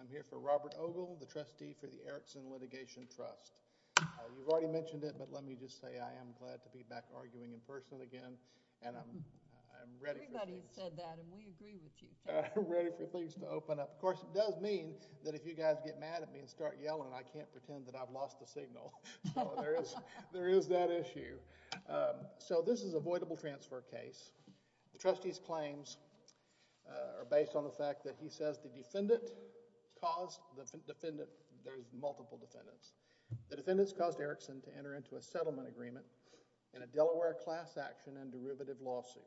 I'm here for Robert Ogle, the trustee for the Erickson Litigation Trust. You've already mentioned it, but let me just say I am glad to be back arguing in person again and I'm ready for things to open up. Of course, it does mean that if you guys get mad at me and start yelling, I can't pretend that I've lost the signal, so there is that issue. So this is a voidable transfer case. The trustee's claims are based on the fact that he says the defendant caused, there's multiple defendants, the defendants caused Erickson to enter into a settlement agreement in a Delaware class action and derivative lawsuit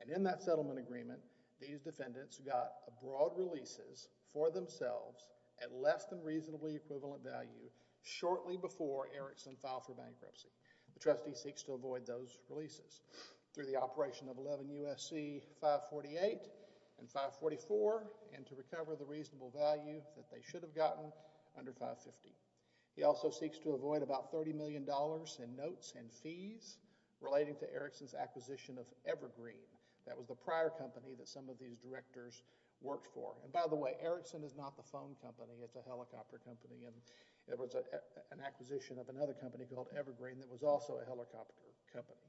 and in that settlement agreement, these defendants got a broad releases for themselves at less than reasonably equivalent value shortly before Erickson filed for bankruptcy. The trustee seeks to avoid those releases through the operation of 11 U.S.C. 548 and 544 and to recover the reasonable value that they should have gotten under 550. He also seeks to avoid about $30 million in notes and fees relating to Erickson's acquisition of Evergreen. That was the prior company that some of these directors worked for and by the way, Erickson is not the phone company, it's a helicopter company and there was an acquisition of another company called Evergreen that was also a helicopter company.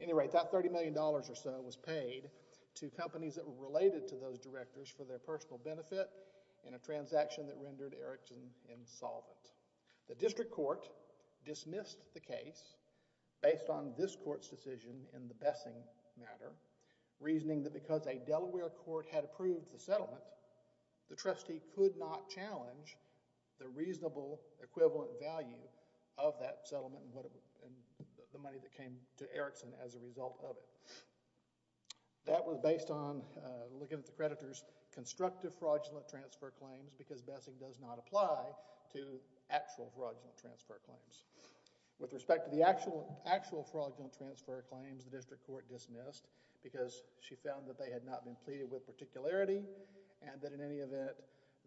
At any rate, that $30 million or so was paid to companies that were related to those directors for their personal benefit in a transaction that rendered Erickson insolvent. The district court dismissed the case based on this court's decision in the Bessing matter reasoning that because a Delaware court had approved the settlement, the trustee could not challenge the reasonable equivalent value of that settlement and the money that came to Erickson as a result of it. That was based on looking at the creditor's constructive fraudulent transfer claims because the actual fraudulent transfer claims. With respect to the actual fraudulent transfer claims, the district court dismissed because she found that they had not been pleaded with particularity and that in any event,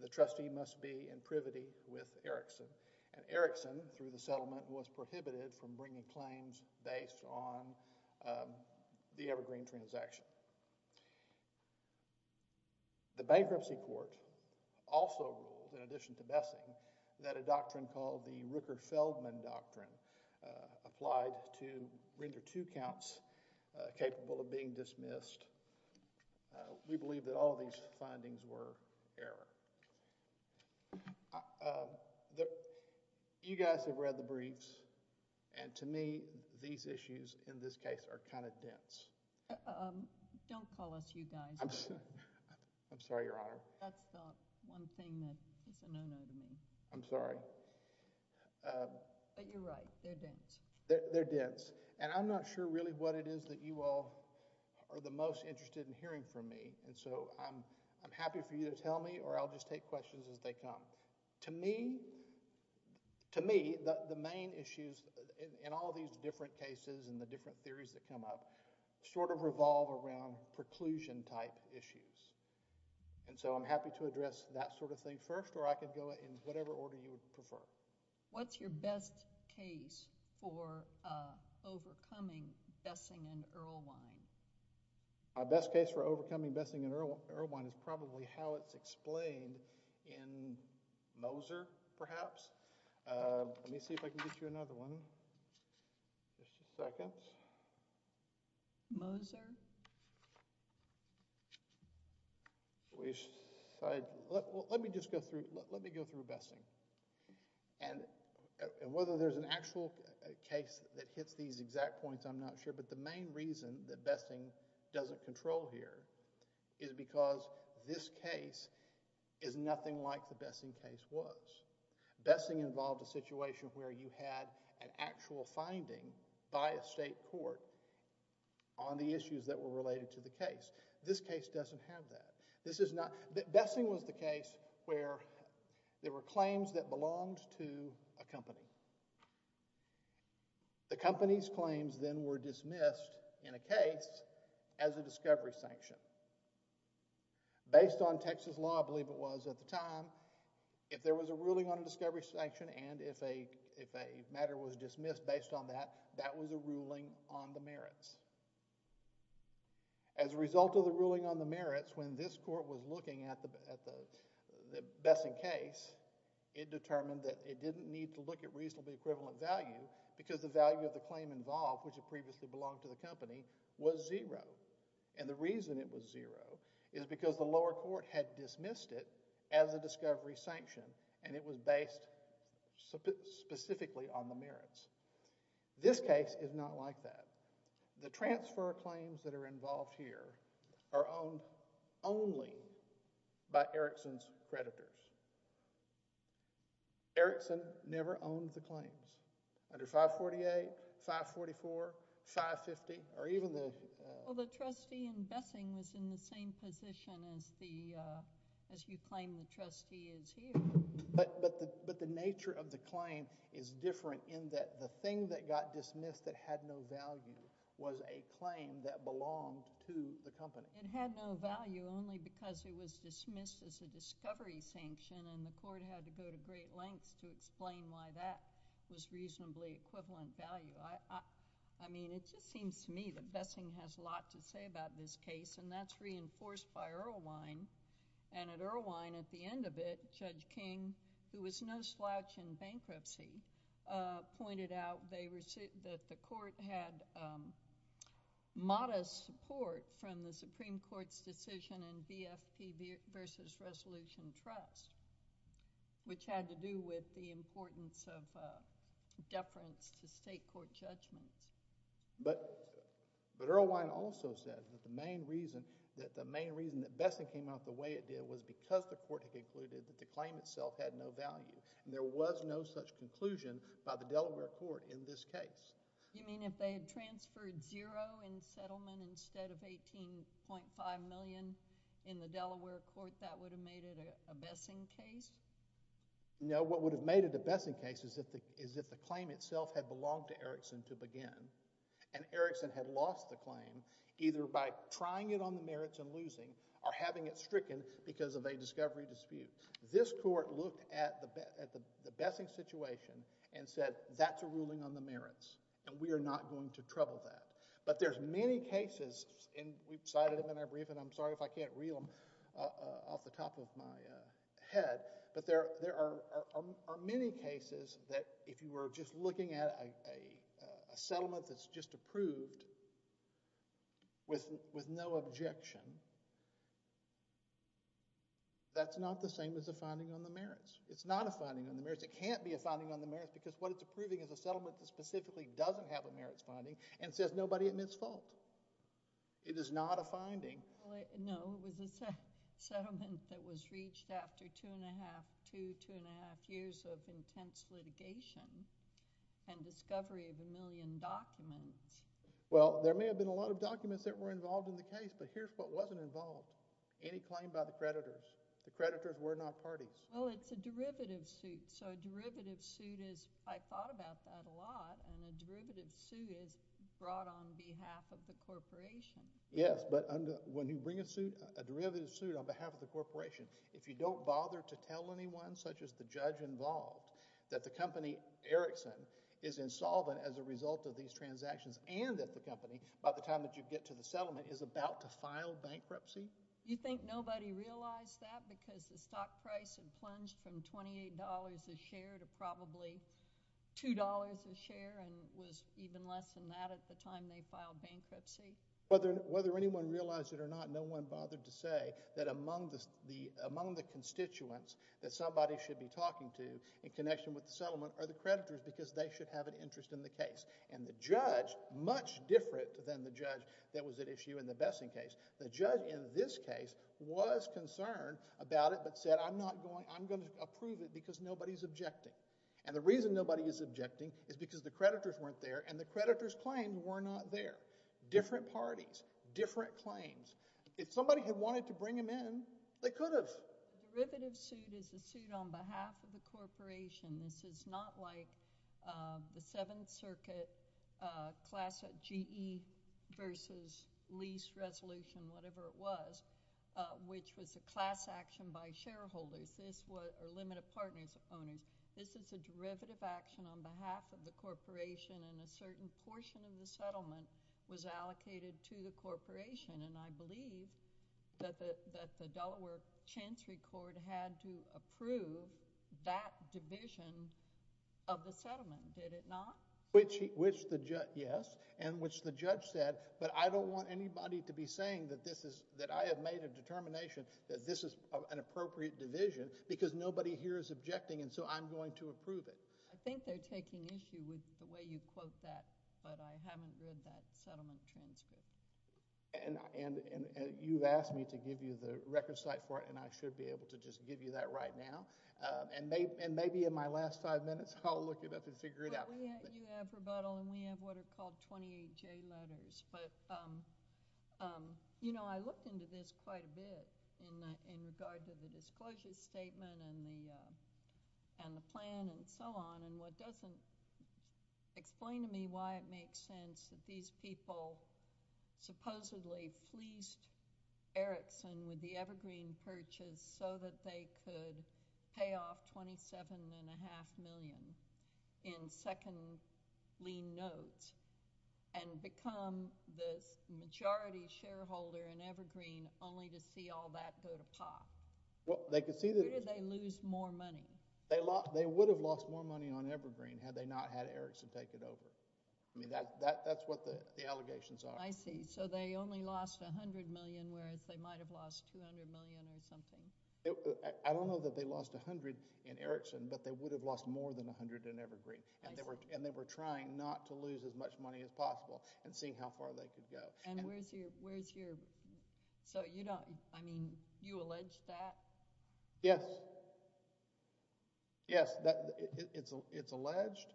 the trustee must be in privity with Erickson and Erickson through the settlement was prohibited from bringing claims based on the Evergreen transaction. The bankruptcy court also ruled, in addition to Bessing, that a doctrine called the Rooker-Feldman Doctrine applied to render two counts capable of being dismissed. We believe that all of these findings were error. You guys have read the briefs and to me, these issues in this case are kind of dense. Don't call us you guys. I'm sorry, Your Honor. That's the one thing that is a no-no to me. I'm sorry. But you're right. They're dense. They're dense. And I'm not sure really what it is that you all are the most interested in hearing from me and so I'm happy for you to tell me or I'll just take questions as they come. To me, to me, the main issues in all these different cases and the different theories that come up sort of revolve around preclusion-type issues and so I'm happy to address that sort of thing first or I could go in whatever order you would prefer. What's your best case for overcoming Bessing and Erlewine? My best case for overcoming Bessing and Erlewine is probably how it's explained in Moser, perhaps. Let me see if I can get you another one. Just a second. Moser? Let me just go through, let me go through Bessing and whether there's an actual case that hits these exact points, I'm not sure, but the main reason that Bessing doesn't control here is because this case is nothing like the Bessing case was. Bessing involved a situation where you had an actual finding by a state court on the issues that were related to the case. This case doesn't have that. This is not, Bessing was the case where there were claims that belonged to a company. The company's claims then were dismissed in a case as a discovery sanction. Based on Texas law, I believe it was at the time, if there was a ruling on a discovery sanction and if a matter was dismissed based on that, that was a ruling on the merits. As a result of the ruling on the merits, when this court was looking at the Bessing case, it determined that it didn't need to look at reasonably equivalent value because the value of the claim involved, which had previously belonged to the company, was zero. The reason it was zero is because the lower court had dismissed it as a discovery sanction and it was based specifically on the merits. This case is not like that. The transfer claims that are involved here are owned only by Erickson's creditors. Erickson never owned the claims under 548, 544, 550 or even the— Well, the trustee in Bessing was in the same position as you claim the trustee is here. But the nature of the claim is different in that the thing that got dismissed that had no value was a claim that belonged to the company. It had no value only because it was dismissed as a discovery sanction and the court had to go to great lengths to explain why that was reasonably equivalent value. It just seems to me that Bessing has a lot to say about this case and that's reinforced by Erlewine. At Erlewine, at the end of it, Judge King, who was no slouch in bankruptcy, pointed out that the court had modest support from the Supreme Court's decision in BFP v. Resolution Trust, which had to do with the importance of deference to state court judgments. But Erlewine also said that the main reason that Bessing came out the way it did was because the court had concluded that the claim itself had no value and there was no such conclusion by the Delaware court in this case. You mean if they had transferred zero in settlement instead of 18.5 million in the Delaware court, do you think that would have made it a Bessing case? No. What would have made it a Bessing case is if the claim itself had belonged to Erickson to begin and Erickson had lost the claim either by trying it on the merits and losing or having it stricken because of a discovery dispute. This court looked at the Bessing situation and said that's a ruling on the merits and we are not going to trouble that. But there's many cases, and we've cited them in our briefing, and I'm sorry if I can't reel them off the top of my head, but there are many cases that if you were just looking at a settlement that's just approved with no objection, that's not the same as a finding on the merits. It's not a finding on the merits. It can't be a finding on the merits because what it's approving is a settlement that specifically doesn't have a merits finding and says nobody admits fault. It is not a finding. Well, no. It was a settlement that was reached after two and a half, two, two and a half years of intense litigation and discovery of a million documents. Well there may have been a lot of documents that were involved in the case, but here's what wasn't involved. Any claim by the creditors. The creditors were not parties. Well, it's a derivative suit. So a derivative suit is... I thought about that a lot, and a derivative suit is brought on behalf of the corporation. Yes, but when you bring a suit, a derivative suit on behalf of the corporation, if you don't bother to tell anyone, such as the judge involved, that the company Erickson is insolvent as a result of these transactions and that the company, by the time that you get to the settlement, is about to file bankruptcy... Do you think nobody realized that because the stock price had plunged from $28 a share to probably $2 a share and was even less than that at the time they filed bankruptcy? Whether anyone realized it or not, no one bothered to say that among the constituents that somebody should be talking to in connection with the settlement are the creditors because they should have an interest in the case. And the judge, much different than the judge that was at issue in the Bessing case, the Bessing case, was concerned about it but said, I'm going to approve it because nobody is objecting. And the reason nobody is objecting is because the creditors weren't there and the creditors claimed were not there. Different parties, different claims. If somebody had wanted to bring them in, they could have. A derivative suit is a suit on behalf of the corporation. This is not like the Seventh Circuit class GE versus lease resolution, whatever it was, which was a class action by shareholders or limited partners, owners. This is a derivative action on behalf of the corporation and a certain portion of the settlement was allocated to the corporation, and I believe that the Delaware Chancery Court had to approve that division of the settlement, did it not? Which the judge, yes, and which the judge said, but I don't want anybody to be saying that this is, that I have made a determination that this is an appropriate division because nobody here is objecting and so I'm going to approve it. I think they're taking issue with the way you quote that, but I haven't read that settlement transcript. And you've asked me to give you the record site for it and I should be able to just give you that right now and maybe in my last five minutes I'll look it up and figure it out. You have rebuttal and we have what are called 28J letters, but I looked into this quite a bit in regard to the disclosure statement and the plan and so on, and what doesn't explain to me why it makes sense that these people supposedly fleeced Erickson with the Evergreen purchase so that they could pay off $27.5 million in second lien notes and become the majority shareholder in Evergreen only to see all that go to pot. Where did they lose more money? They would have lost more money on Evergreen had they not had Erickson take it over. I mean, that's what the allegations are. I see. So they only lost $100 million whereas they might have lost $200 million or something. I don't know that they lost $100 in Erickson, but they would have lost more than $100 in Evergreen and they were trying not to lose as much money as possible and seeing how far they could go. And where's your, where's your, so you don't, I mean, you allege that? Yes. Yes, it's alleged.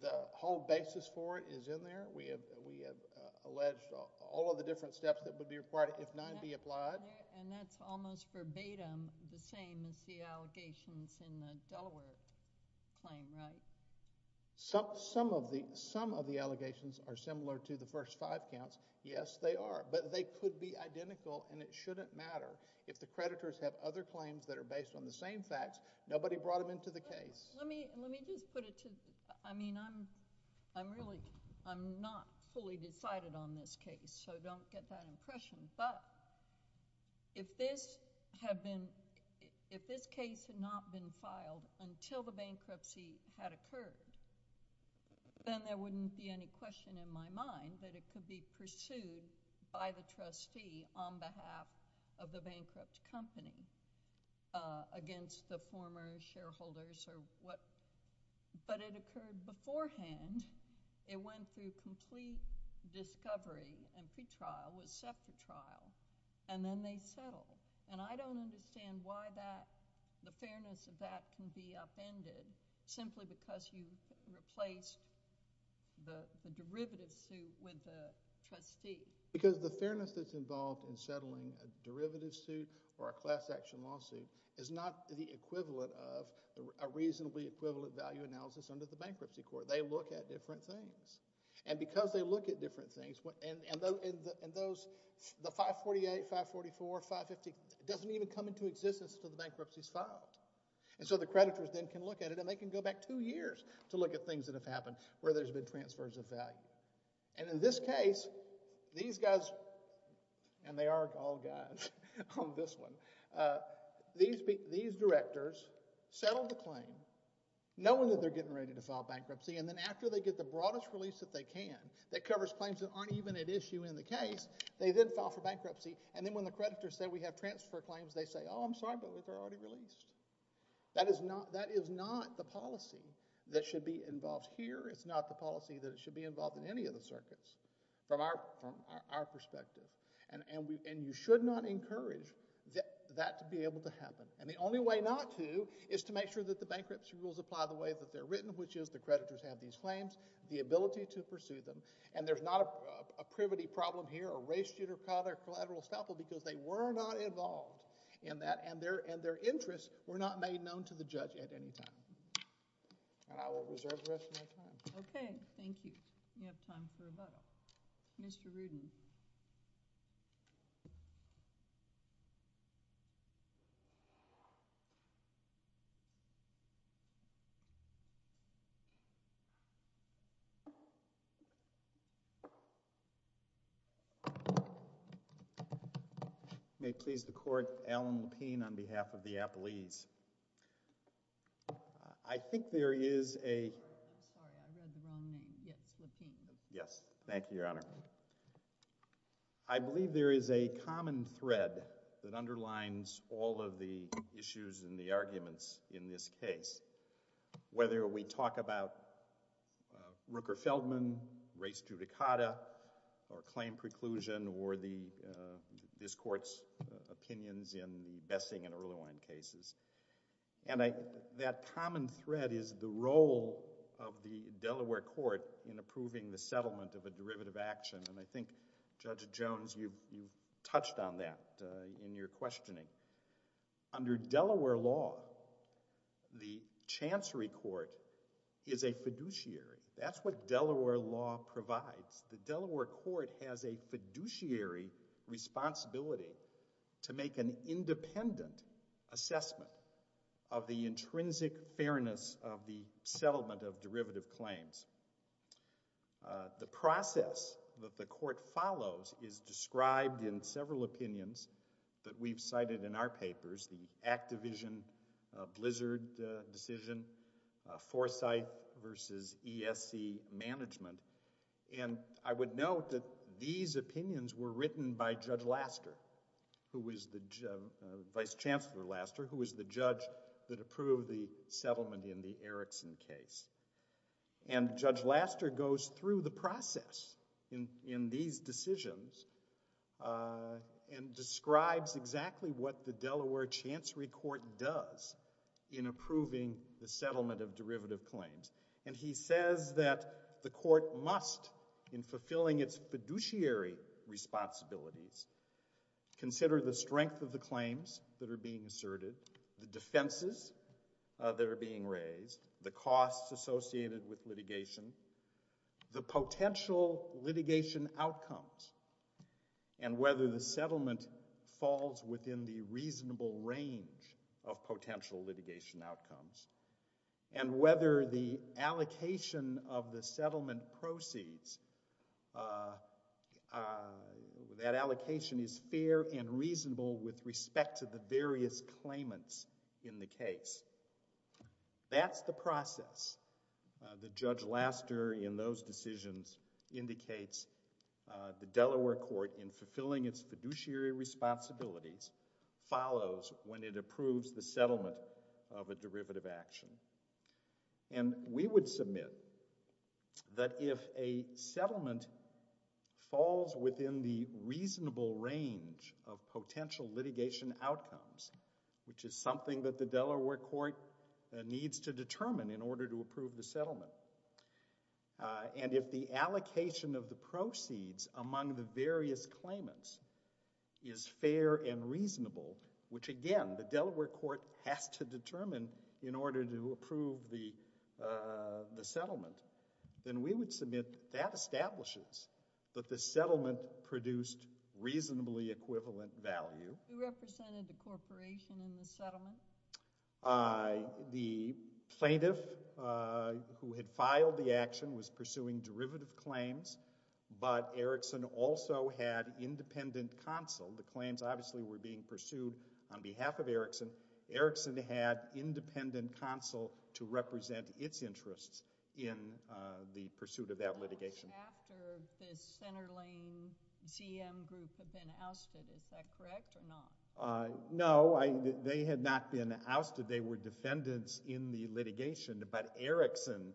The whole basis for it is in there. We have, we have alleged all of the different steps that would be required if none be applied. And that's almost verbatim the same as the allegations in the Delaware claim, right? Some, some of the, some of the allegations are similar to the first five counts. Yes, they are, but they could be identical and it shouldn't matter. If the creditors have other claims that are based on the same facts, nobody brought them into the case. Let me, let me just put it to, I mean, I'm, I'm really, I'm not fully decided on this case, so don't get that impression. But if this had been, if this case had not been filed until the bankruptcy had occurred, then there wouldn't be any question in my mind that it could be pursued by the trustee on behalf of the bankrupt company against the former shareholders or what. But it occurred beforehand. It went through complete discovery and pretrial with separate trial. And then they settled. And I don't understand why that, the fairness of that can be upended simply because you replaced the, the derivative suit with the trustee. Because the fairness that's involved in settling a derivative suit or a class action lawsuit is not the equivalent of a reasonably equivalent value analysis under the bankruptcy court. They look at different things. And because they look at different things, and those, the 548, 544, 550, it doesn't even come into existence until the bankruptcy is filed. And so the creditors then can look at it and they can go back two years to look at things that have happened where there's been transfers of value. And in this case, these guys, and they are all guys on this one, these, these directors settled the claim, knowing that they're getting ready to file bankruptcy. And then after they get the broadest release that they can that covers claims that aren't even at issue in the case, they then file for bankruptcy. And then when the creditors say, we have transfer claims, they say, oh, I'm sorry, but they're already released. That is not, that is not the policy that should be involved here. It's not the policy that should be involved in any of the circuits from our, from our perspective. And, and we, and you should not encourage that, that to be able to happen. And the only way not to is to make sure that the bankruptcy rules apply the way that they're written, which is the creditors have these claims, the ability to pursue them. And there's not a, a privity problem here, a race judicata, collateral estoppel, because they were not involved in that and their, and their interests were not made known to the judge at any time. And I will reserve the rest of my time. Okay. Thank you. You have time for rebuttal. Mr. Rudin. May it please the Court, Alan Lapine on behalf of the Appalese. I think there is a... Sorry, I read the wrong name. Yes, Lapine. Yes. Thank you, Your Honor. I believe there is a common thread that underlines all of the issues and the arguments in this case. Whether we talk about Rooker-Feldman, race judicata, or claim preclusion, or the, this Court's opinions in the Bessing and Erlewine cases. And I, that common thread is the role of the Delaware Court in approving the settlement of a derivative action. And I think, Judge Jones, you've, you've touched on that in your questioning. Under Delaware law, the Chancery Court is a fiduciary. That's what Delaware law provides. The Delaware Court has a fiduciary responsibility to make an independent assessment of the intrinsic fairness of the settlement of derivative claims. The process that the Court follows is described in several opinions that we've cited in our papers. The Act Division, Blizzard decision, Forsyth versus ESC management. And I would note that these opinions were written by Judge Laster. Who was the, Vice Chancellor Laster, who was the judge that approved the settlement in the Erickson case. And Judge Laster goes through the process in, in these decisions, uh, and describes exactly what the Delaware Chancery Court does in approving the settlement of derivative claims. And he says that the Court must, in fulfilling its fiduciary responsibilities, consider the strength of the claims that are being asserted, the defenses that are being raised, the costs associated with litigation, the potential litigation outcomes, and whether the settlement falls within the reasonable range of potential litigation outcomes, and whether the allocation of the settlement proceeds, uh, uh, that allocation is fair and reasonable with respect to the various claimants in the case. That's the process that Judge Laster, in those decisions, indicates the Delaware Court in fulfilling its fiduciary responsibilities follows when it approves the settlement of a derivative action. And we would submit that if a settlement falls within the reasonable range of potential litigation outcomes, which is something that the Delaware Court needs to determine in order to approve the settlement, uh, and if the allocation of the proceeds among the various claimants is fair and reasonable, which, again, the Delaware Court has to determine in order to approve the, uh, the settlement, then we would submit that establishes that the settlement produced reasonably equivalent value. Who represented the corporation in the settlement? Uh, the plaintiff, uh, who had filed the action was pursuing derivative claims, but Erickson also had independent counsel. The claims, obviously, were being pursued on behalf of Erickson. Erickson had independent counsel to represent its interests in, uh, the pursuit of that litigation. How much after the Center Lane ZM group had been ousted? Is that correct or not? Uh, no, they had not been ousted. They were defendants in the litigation, but Erickson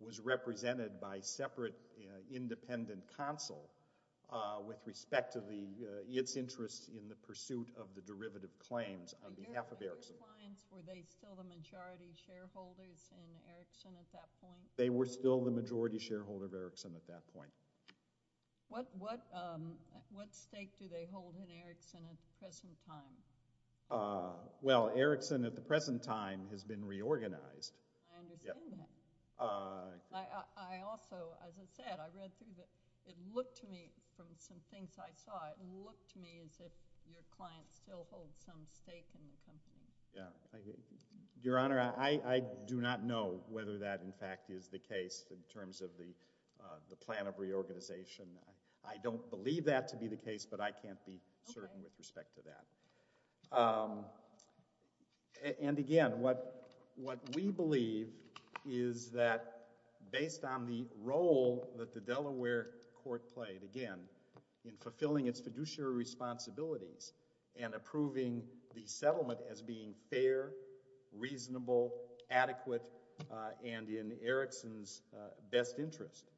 was represented by separate, uh, independent counsel, uh, with respect to the, uh, its interests in the pursuit of the derivative claims on behalf of Erickson. Were they still the majority shareholders in Erickson at that point? They were still the majority shareholder of Erickson at that point. What, what, um, what stake do they hold in Erickson at the present time? Uh, well, Erickson at the present time has been reorganized. I understand that. Uh, I, I also, as I said, I read through the, it looked to me from some things I saw, it looked to me as if your client still holds some stake in the company. Yeah. Your Honor, I, I do not know whether that, in fact, is the case in terms of the, uh, the plan of reorganization. I don't believe that to be the case, but I can't be certain with respect to that. Um, and again, what, what we believe is that based on the role that the Delaware court played, again, in fulfilling its fiduciary responsibilities and approving the settlement as being fair, reasonable, adequate, uh, and in Erickson's, uh, best interest,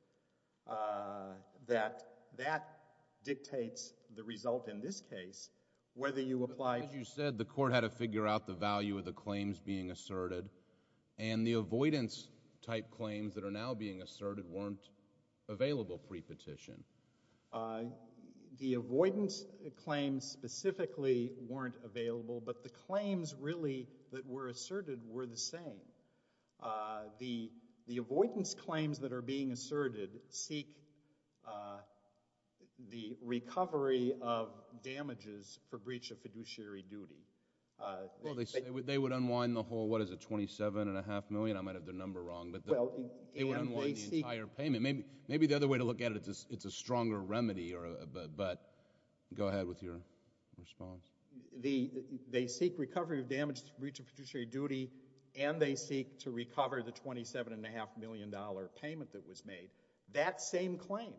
uh, that, that dictates the result in this case whether you apply... But as you said, the court had to figure out the value of the claims being asserted and the avoidance type claims that are now being asserted weren't available pre-petition. Uh, the avoidance claims specifically weren't available, but the claims really that were asserted were the same. Uh, the, the avoidance claims that are being asserted seek, uh, the recovery of damages for breach of fiduciary duty. Uh... Well, they, they would unwind the whole, what is it, $27.5 million? I might have the number wrong, but they would unwind the entire payment. Maybe, maybe the other way to look at it, it's a, it's a stronger remedy or a, but, but... Go ahead with your response. The, they seek recovery of damages for breach of fiduciary duty and they seek to recover the $27.5 million payment that was made. That same claim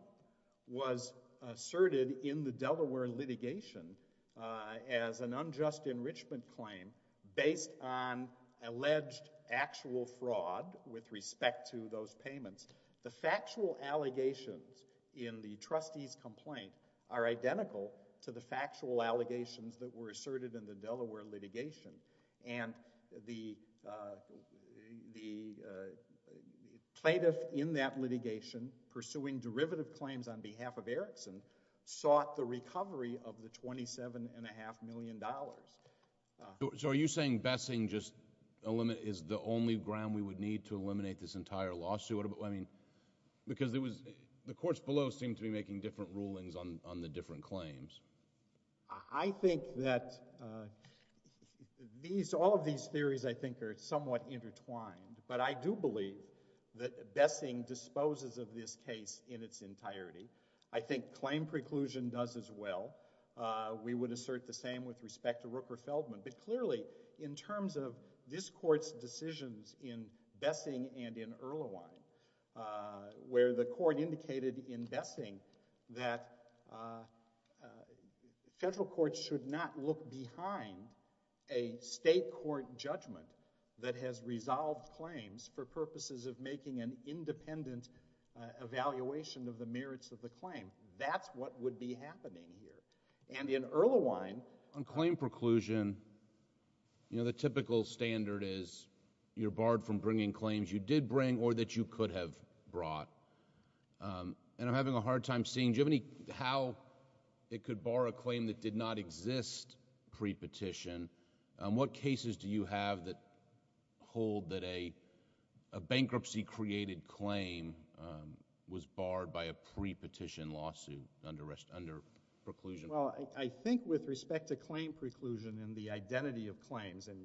was asserted in the Delaware litigation, uh, as an unjust enrichment claim based on alleged actual fraud with respect to those payments. The factual allegations in the trustee's complaint are identical to the factual allegations that were asserted in the Delaware litigation and the, uh, the, uh, plaintiff in that litigation pursuing derivative claims on behalf of Erickson sought the recovery of the $27.5 million dollars. So are you saying bessing just eliminate, is the only ground we would need to eliminate this entire lawsuit? I mean, because there was, the courts below seem to be making different rulings on, on the different claims. I think that uh, these, all of these theories I think are somewhat intertwined, but I do believe that bessing disposes of this case in its entirety. I think claim preclusion does as well. Uh, we would assert the same with respect to Rooker-Feldman but clearly in terms of this court's decisions in Bessing and in Erlewine uh, where the court indicated in Bessing that uh, federal courts should not look behind a state court judgment that has resolved claims for purposes of making an independent evaluation of the merits of the claim. That's what would be happening here. And in Erlewine On claim preclusion you know, the typical standard is you're barred from bringing claims you did bring or that you could have brought. Um, and I'm having a hard time seeing, do you have any how it could bar a claim that did not exist pre-petition? Um, what cases do you have that hold that a, a bankruptcy created claim um, was barred by a pre-petition lawsuit under rest, under claim preclusion? Well, I think with respect to claim preclusion and the identity of claims, and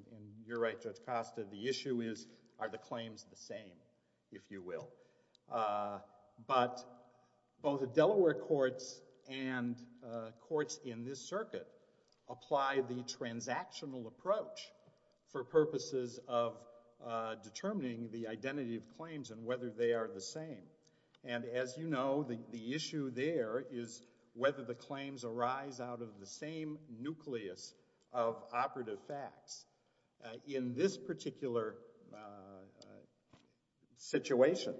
you're right Judge Costa, the issue is are the claims the same, if you will. Uh, but both the Delaware courts and uh, courts in this circuit apply the transactional approach for purposes of uh, determining the identity of claims and whether they are the same. And as you know, the issue there is whether the claims arise out of the same nucleus of operative facts. In this particular situation,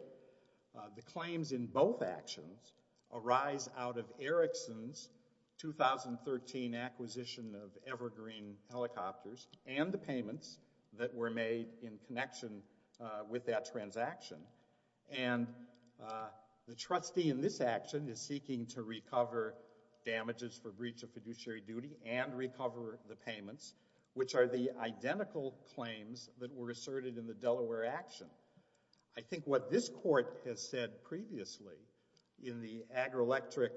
the claims in both actions arise out of Erickson's 2013 acquisition of Evergreen Helicopters and the payments that were made in connection with that transaction. And uh, the trustee in this action is seeking to recover damages for breach of fiduciary duty and recover the payments which are the identical claims that were asserted in the Delaware action. I think what this court has said previously in the AgriElectric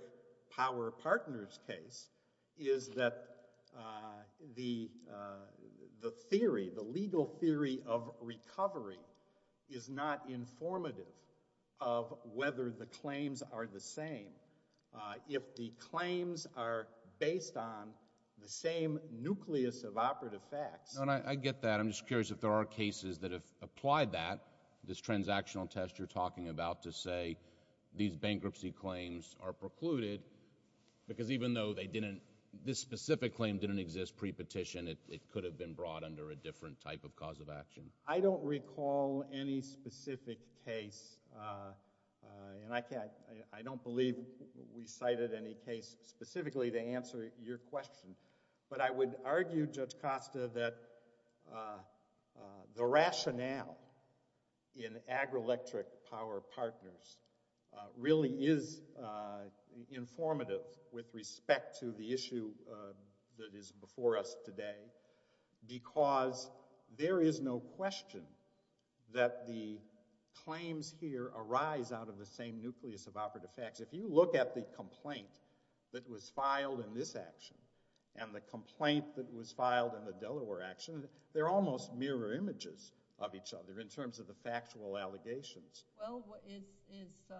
Power Partners case is that uh, the uh, the theory, the legal theory of recovery is not informative of whether the claims are the same. Uh, if the claims are based on the same nucleus of operative facts I get that. I'm just curious if there are cases that have applied that, this transactional test you're talking about to say these bankruptcy claims are precluded because even though they didn't, this specific claim didn't exist pre-petition it could have been brought under a different type of cause of action. I don't recall any specific case uh, and I can't I don't believe we cited any case specifically to answer your question, but I would argue Judge Costa that uh, the rationale in AgriElectric Power Partners uh, really is uh, informative with respect to the issue that is before us today because there is no question that the claims here arise out of the same nucleus of operative facts. If you look at the complaint that was filed in this action and the complaint that was filed in the Delaware action they're almost mirror images of each other in terms of the factual allegations. Well, is is uh,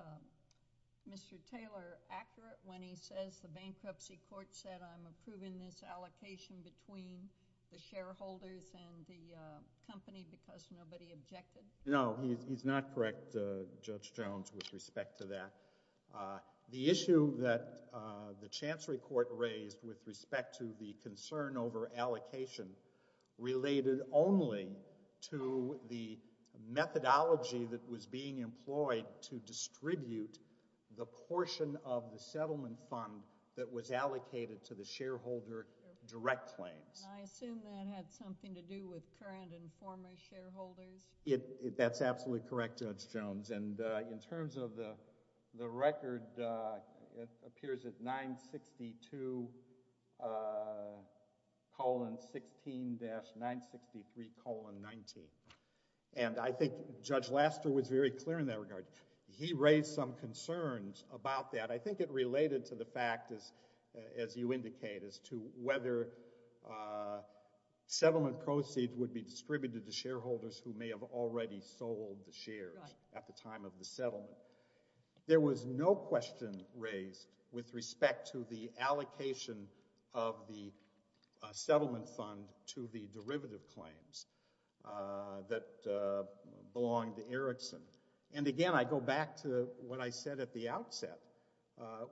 Mr. Taylor accurate when he says the bankruptcy court said I'm approving this allocation between the shareholders and the company because nobody objected? No, he's not correct Judge Jones with respect to that uh, the issue that uh, the chancery court raised with respect to the concern over allocation related only to the methodology that was being employed to distribute the portion of the settlement fund that was allocated to the shareholder direct claims. I assume that had something to do with current and former shareholders? That's absolutely correct Judge Jones and uh, in terms of the the record uh, appears at 962 uh colon 16 dash 963 colon 19 and I think Judge Laster was very clear in that regard. He raised some concerns about that. I think it related to the fact as you indicate as to whether uh settlement proceeds would be distributed to shareholders who may have already sold the shares at the time of the settlement. There was no question raised with respect to the allocation of the settlement fund to the derivative claims uh that uh, belonged to Erickson and again I go back to what I said at the outset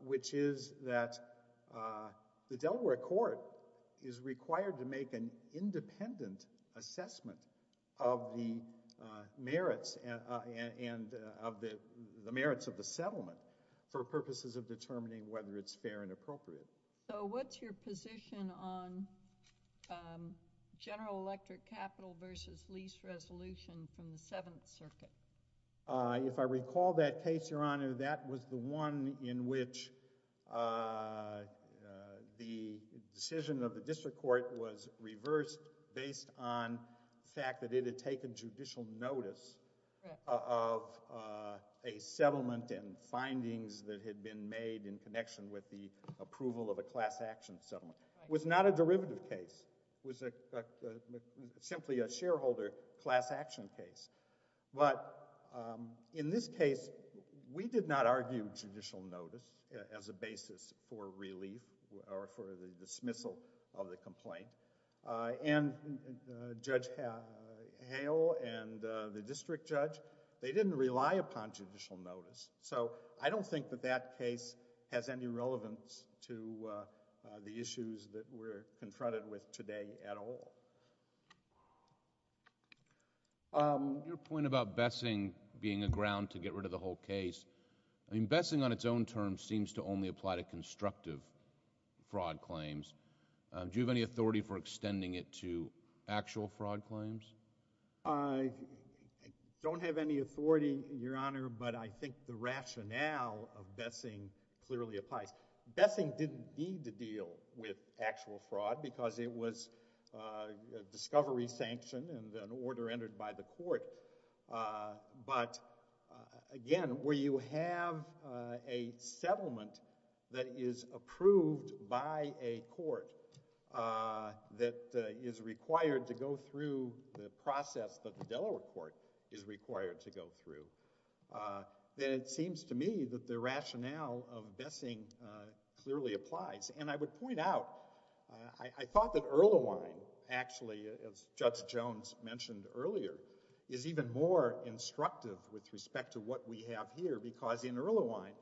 which is that uh, the Delaware court is required to make an independent assessment of the merits and the merits of the settlement for purposes of determining whether it's fair and appropriate. So what's your position on um, general electric capital versus lease resolution from the 7th circuit? Uh, if I recall that case your honor, that was the one in which uh uh, the decision of the district court was reversed based on the fact that it had taken judicial notice of uh, a settlement and findings that had been made in connection with the approval of a class action settlement. It was not a derivative case. It was a simply a shareholder class action case but um, in this case we did not argue judicial notice as a basis for relief or for the dismissal of the complaint uh, and Judge Hale and uh, the district judge, they didn't rely upon judicial notice so I don't think that that case has any relevance to uh, the issues that we're confronted with today at all. Um, your point about Bessing being a ground to get rid of the whole case, I mean Bessing on its own terms seems to only apply to constructive fraud claims uh, do you have any authority for extending it to actual fraud claims? Uh I don't have any authority your honor but I think the rationale of Bessing clearly applies. Bessing didn't need to deal with actual fraud because it was uh a recovery sanction and an order entered by the court uh, but again where you have a settlement that is approved by a court uh, that is required to go through the process that the Delaware court is required to go through uh, then it seems to me that the rationale of Bessing uh, clearly applies and I would point out, I thought that Erlewine actually as Judge Jones mentioned earlier is even more instructive with respect to what we have here because in Erlewine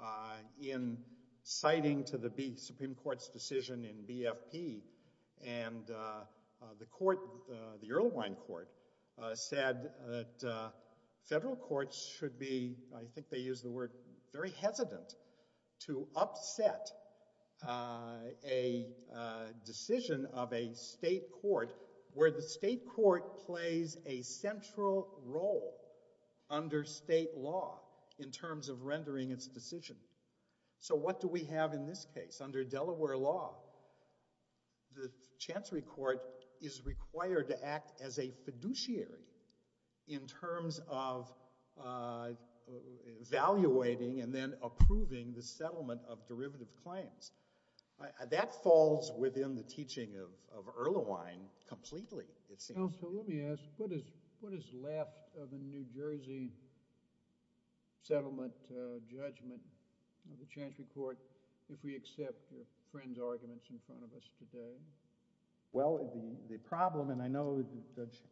uh, in citing to the Supreme Court's decision in BFP and uh, the court the Erlewine court uh, said that uh, federal courts should be, I think they use the word very hesitant to upset uh, a uh, decision of a state court where the state court plays a central role under state law in terms of rendering its decision so what do we have in this case? Under Delaware law the Chancery court is required to act as a fiduciary in terms of uh evaluating and then making its claims that falls within the teaching of Erlewine completely it seems. Counselor, let me ask what is left of the New Jersey settlement uh, judgment of the Chancery court if we accept your friend's arguments in front of us today? Well, the problem and I know Judge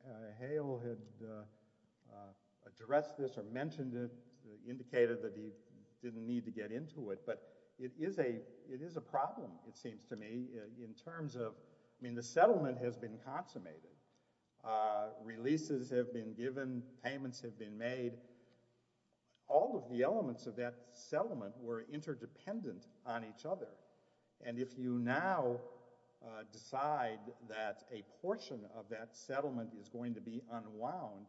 Hale had addressed this or mentioned it indicated that he didn't need to get into it but it is a problem it seems to me in terms of I mean the settlement has been consummated uh, releases have been given, payments have been made all of the elements of that settlement were interdependent on each other and if you now decide that a portion of that settlement is going to be unwound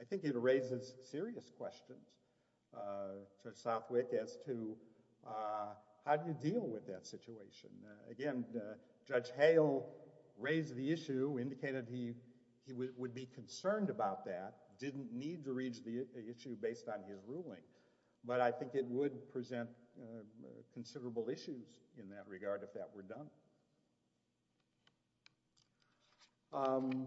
I think it raises serious questions uh, Judge Southwick as to uh how do you deal with that situation? Again, Judge Hale raised the issue, indicated he would be concerned about that, didn't need to reach the issue based on his ruling but I think it would present considerable issues in that regard if that were done um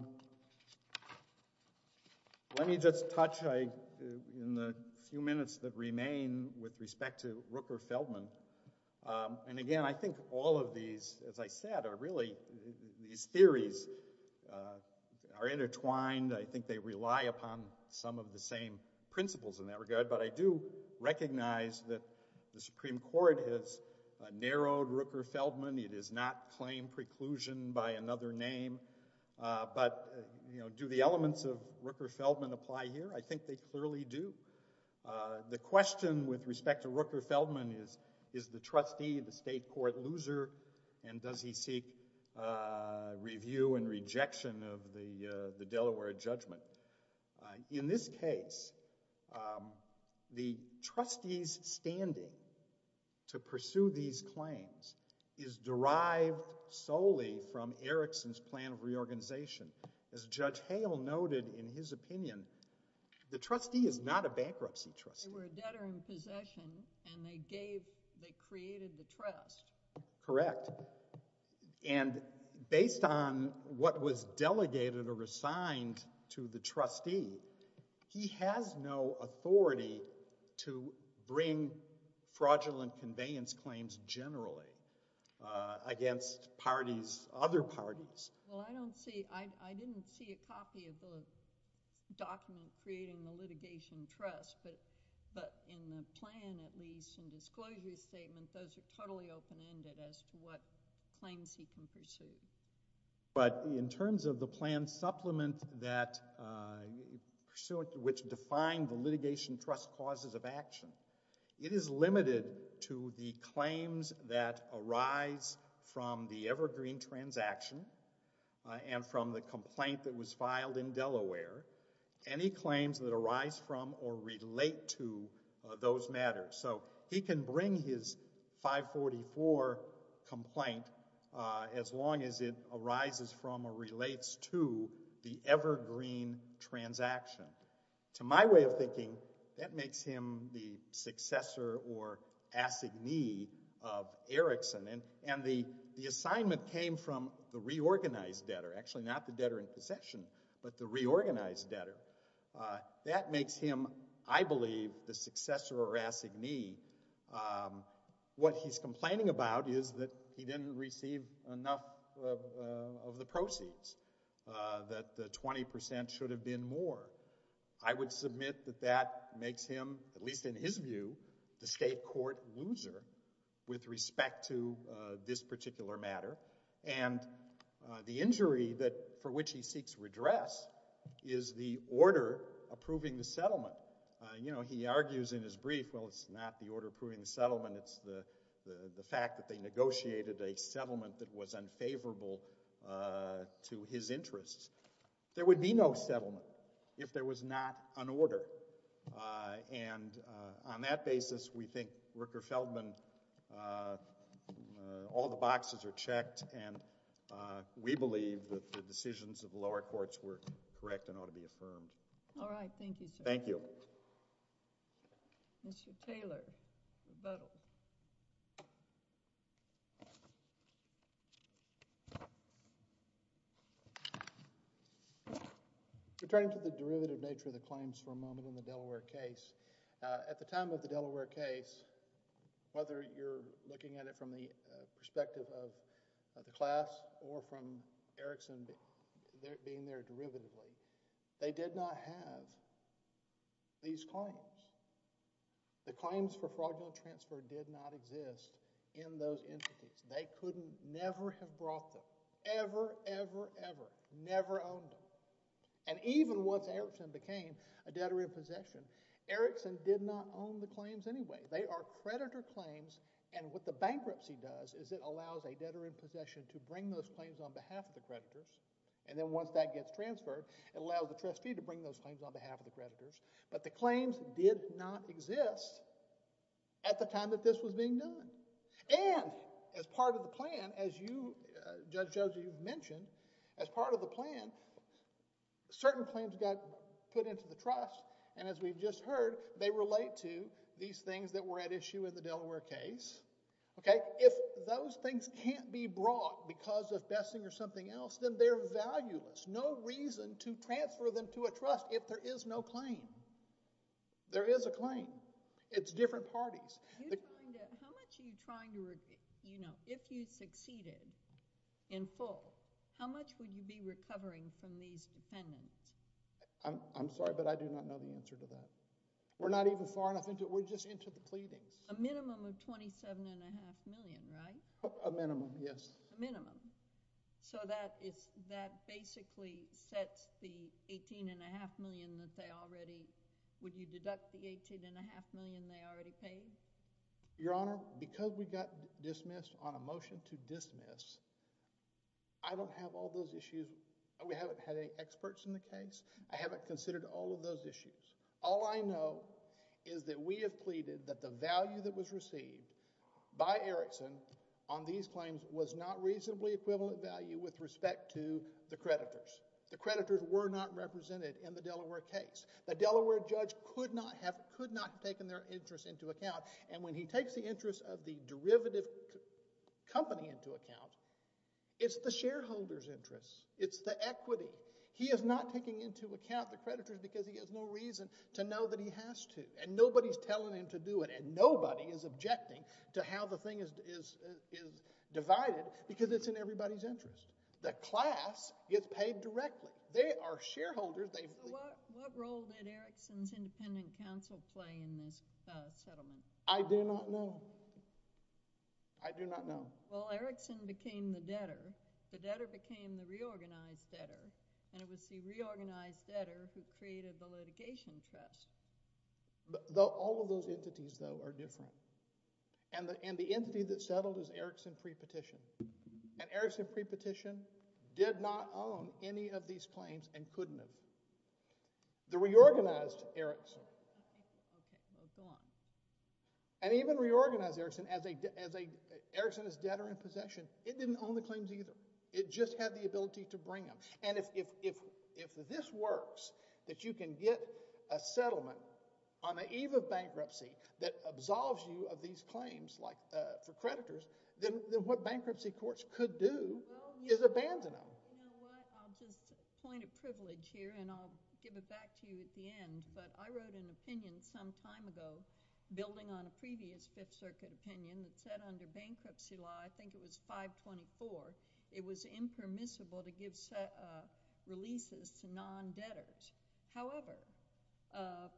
let me just touch in the few minutes that remain with respect to Rooker-Feldman um, and again I think all of these as I said are really these theories are intertwined, I think they rely upon some of the same principles in that regard but I do recognize that the Supreme Court has narrowed Rooker-Feldman, it has not claimed preclusion by another name uh, but you know do the elements of Rooker-Feldman apply here? I think they clearly do uh, the question with respect to Rooker-Feldman is is the trustee the state court loser and does he seek uh, review and rejection of the Delaware judgment uh, in this case um the trustee's standing to pursue these claims is derived solely from Erickson's plan of reorganization. As Judge Hale noted in his opinion the trustee is not a bankruptcy trustee. They were a debtor in possession and they gave, they created the trust. Correct and based on what was delegated or assigned to the trustee, he has no authority to bring fraudulent conveyance claims generally uh, against parties, other parties Well, I don't see, I didn't see a copy of the document creating the litigation trust but in the plan at least in disclosure statement those are totally open-ended as to what claims he can pursue but in terms of the plan supplement that uh, which defined the litigation trust causes of action, it is limited to the claims that the Evergreen transaction and from the complaint that was filed in Delaware any claims that arise from or relate to those matters so he can bring his 544 complaint as long as it arises from or relates to the Evergreen transaction. To my way of thinking, that makes him the successor or assignee of The assignment came from the reorganized debtor, actually not the debtor in possession but the reorganized debtor uh, that makes him I believe, the successor or assignee What he's complaining about is that he didn't receive enough of the proceeds uh, that the 20% should have been more I would submit that that makes him at least in his view, the state court loser with respect to this particular matter and the injury for which he seeks redress is the order approving the settlement you know, he argues in his brief it's not the order approving the settlement it's the fact that they negotiated a settlement that was unfavorable uh, to his interests there would be no settlement if there was not an order uh, and on that basis, we think Ricker Feldman uh, all the boxes are checked and uh, we believe that the decisions of the lower courts were correct and ought to be affirmed Alright, thank you sir. Thank you Mr. Taylor Rebuttal Returning to the derivative nature of the claims for a moment in the Delaware case uh, at the time of the Delaware case whether you're looking at it from the perspective of the class or from Erickson being there derivatively they did not have these claims the claims for fraudulent transfer did not exist in those entities. They could never have brought them. Ever, ever, ever. Never owned them and even once Erickson became a debtor in possession, Erickson did not own the claims anyway they are creditor claims and what the bankruptcy does is it allows a debtor in possession to bring those claims on behalf of the creditors and then once that gets transferred, it allows the trustee to bring those claims on behalf of the creditors but the claims did not exist at the time that this was being done and as part of the plan, as you Judge Joseph, you've mentioned as part of the plan certain claims got put into the trust and as we've just heard, they relate to these things that were at issue in the Delaware case. Okay, if those things can't be brought because of besting or something else, then they're valueless. No reason to transfer them to a trust if there is no claim. There is a claim. It's different parties How much are you trying to, you know, if you succeeded in full How much would you be recovering from these defendants? I'm sorry, but I do not know the answer to that. We're not even far enough into it. We're just into the pleadings. A minimum of $27.5 million, right? A minimum, yes. A minimum. So that is, that basically sets the $18.5 million that they already, would you deduct the $18.5 million they already paid? Your Honor, because we got dismissed on a motion to I don't have all those issues. We haven't had any experts in the case. I haven't considered all of those issues. All I know is that we have pleaded that the value that was received by Erickson on these claims was not reasonably equivalent value with respect to the creditors. The creditors were not represented in the Delaware case. The Delaware judge could not have could not have taken their interest into account and when he takes the interest of the derivative company into account, it's the shareholder's interest. It's the equity. He is not taking into account the creditors because he has no reason to know that he has to and nobody's telling him to do it and nobody is objecting to how the thing is divided because it's in everybody's interest. The class gets paid directly. They are shareholders. What role did Erickson's independent counsel play in this settlement? I do not know. I do not know. Well, Erickson became the debtor. The debtor became the reorganized debtor and it was the reorganized debtor who created the litigation trust. All of those entities, though, are different and the entity that settled is Erickson Prepetition and Erickson Prepetition did not own any of these claims and couldn't have. The reorganized Erickson and even reorganized Erickson as Erickson's debtor in possession, it didn't own the claims either. It just had the ability to bring them and if this works, that you can get a settlement on the eve of bankruptcy that absolves you of these claims for creditors then what bankruptcy courts could do is abandon them. I'll just point a privilege here and I'll give it back to you at the end, but I wrote an opinion some time ago building on a previous Fifth Circuit opinion that said under bankruptcy law I think it was 524 it was impermissible to give releases to non-debtors. However,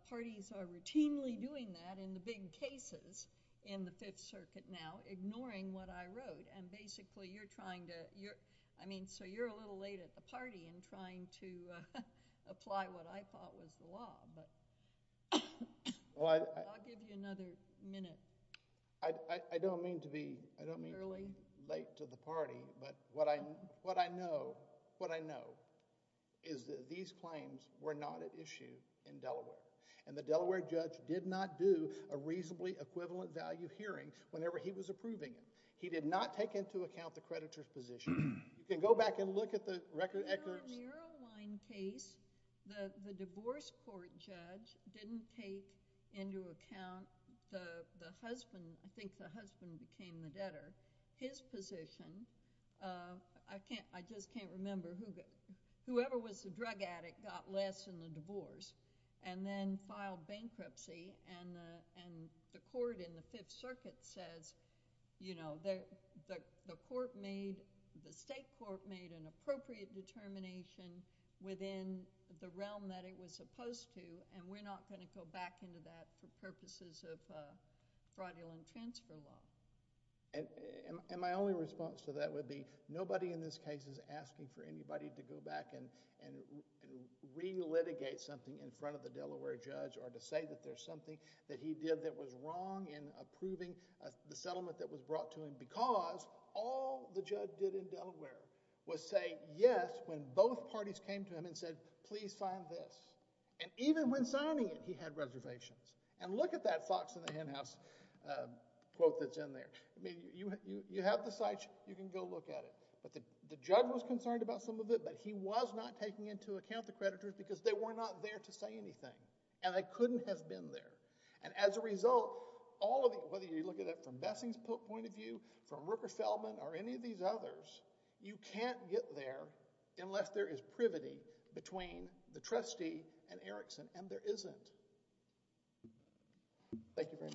parties are routinely doing that in the big cases in the Fifth Circuit now ignoring what I wrote and basically you're trying to, I mean, so you're a little late at the party in trying to apply what I thought was the law, but I'll give you another minute. I don't mean to be late to the party, but what I know is that these claims were not at issue in Delaware and the Delaware judge did not do a reasonably equivalent value hearing whenever he was approving it. He did not take into account the creditor's position. You can go back and look at the record. In the Erlewine case, the divorce court judge didn't take into account the husband, I think the husband became the debtor. His position, I just can't remember whoever was the drug addict got less in the divorce and then filed bankruptcy and the court in the Fifth Circuit says you know, the court made, the state court made an appropriate determination within the realm that it was supposed to and we're not going to go back into that for purposes of fraudulent transfer law. My only response to that would be nobody in this case is asking for anybody to go back and relitigate something in front of the Delaware judge or to say that there's something that he did that was wrong in approving the settlement that was brought to him because all the judge did in Delaware was say yes when both parties came to him and said please sign this and even when signing it he had reservations and look at that Fox in the Hen House quote that's in there. You have the site, you can go look at it. The judge was concerned about some of it but he was not taking into account the creditors because they were not there to say anything and they couldn't have been there and as a result all of whether you look at it from Bessing's point of view, from Rooker-Feldman or any of these others, you can't get there unless there is privity between the trustee and Erickson and there isn't. Thank you very much.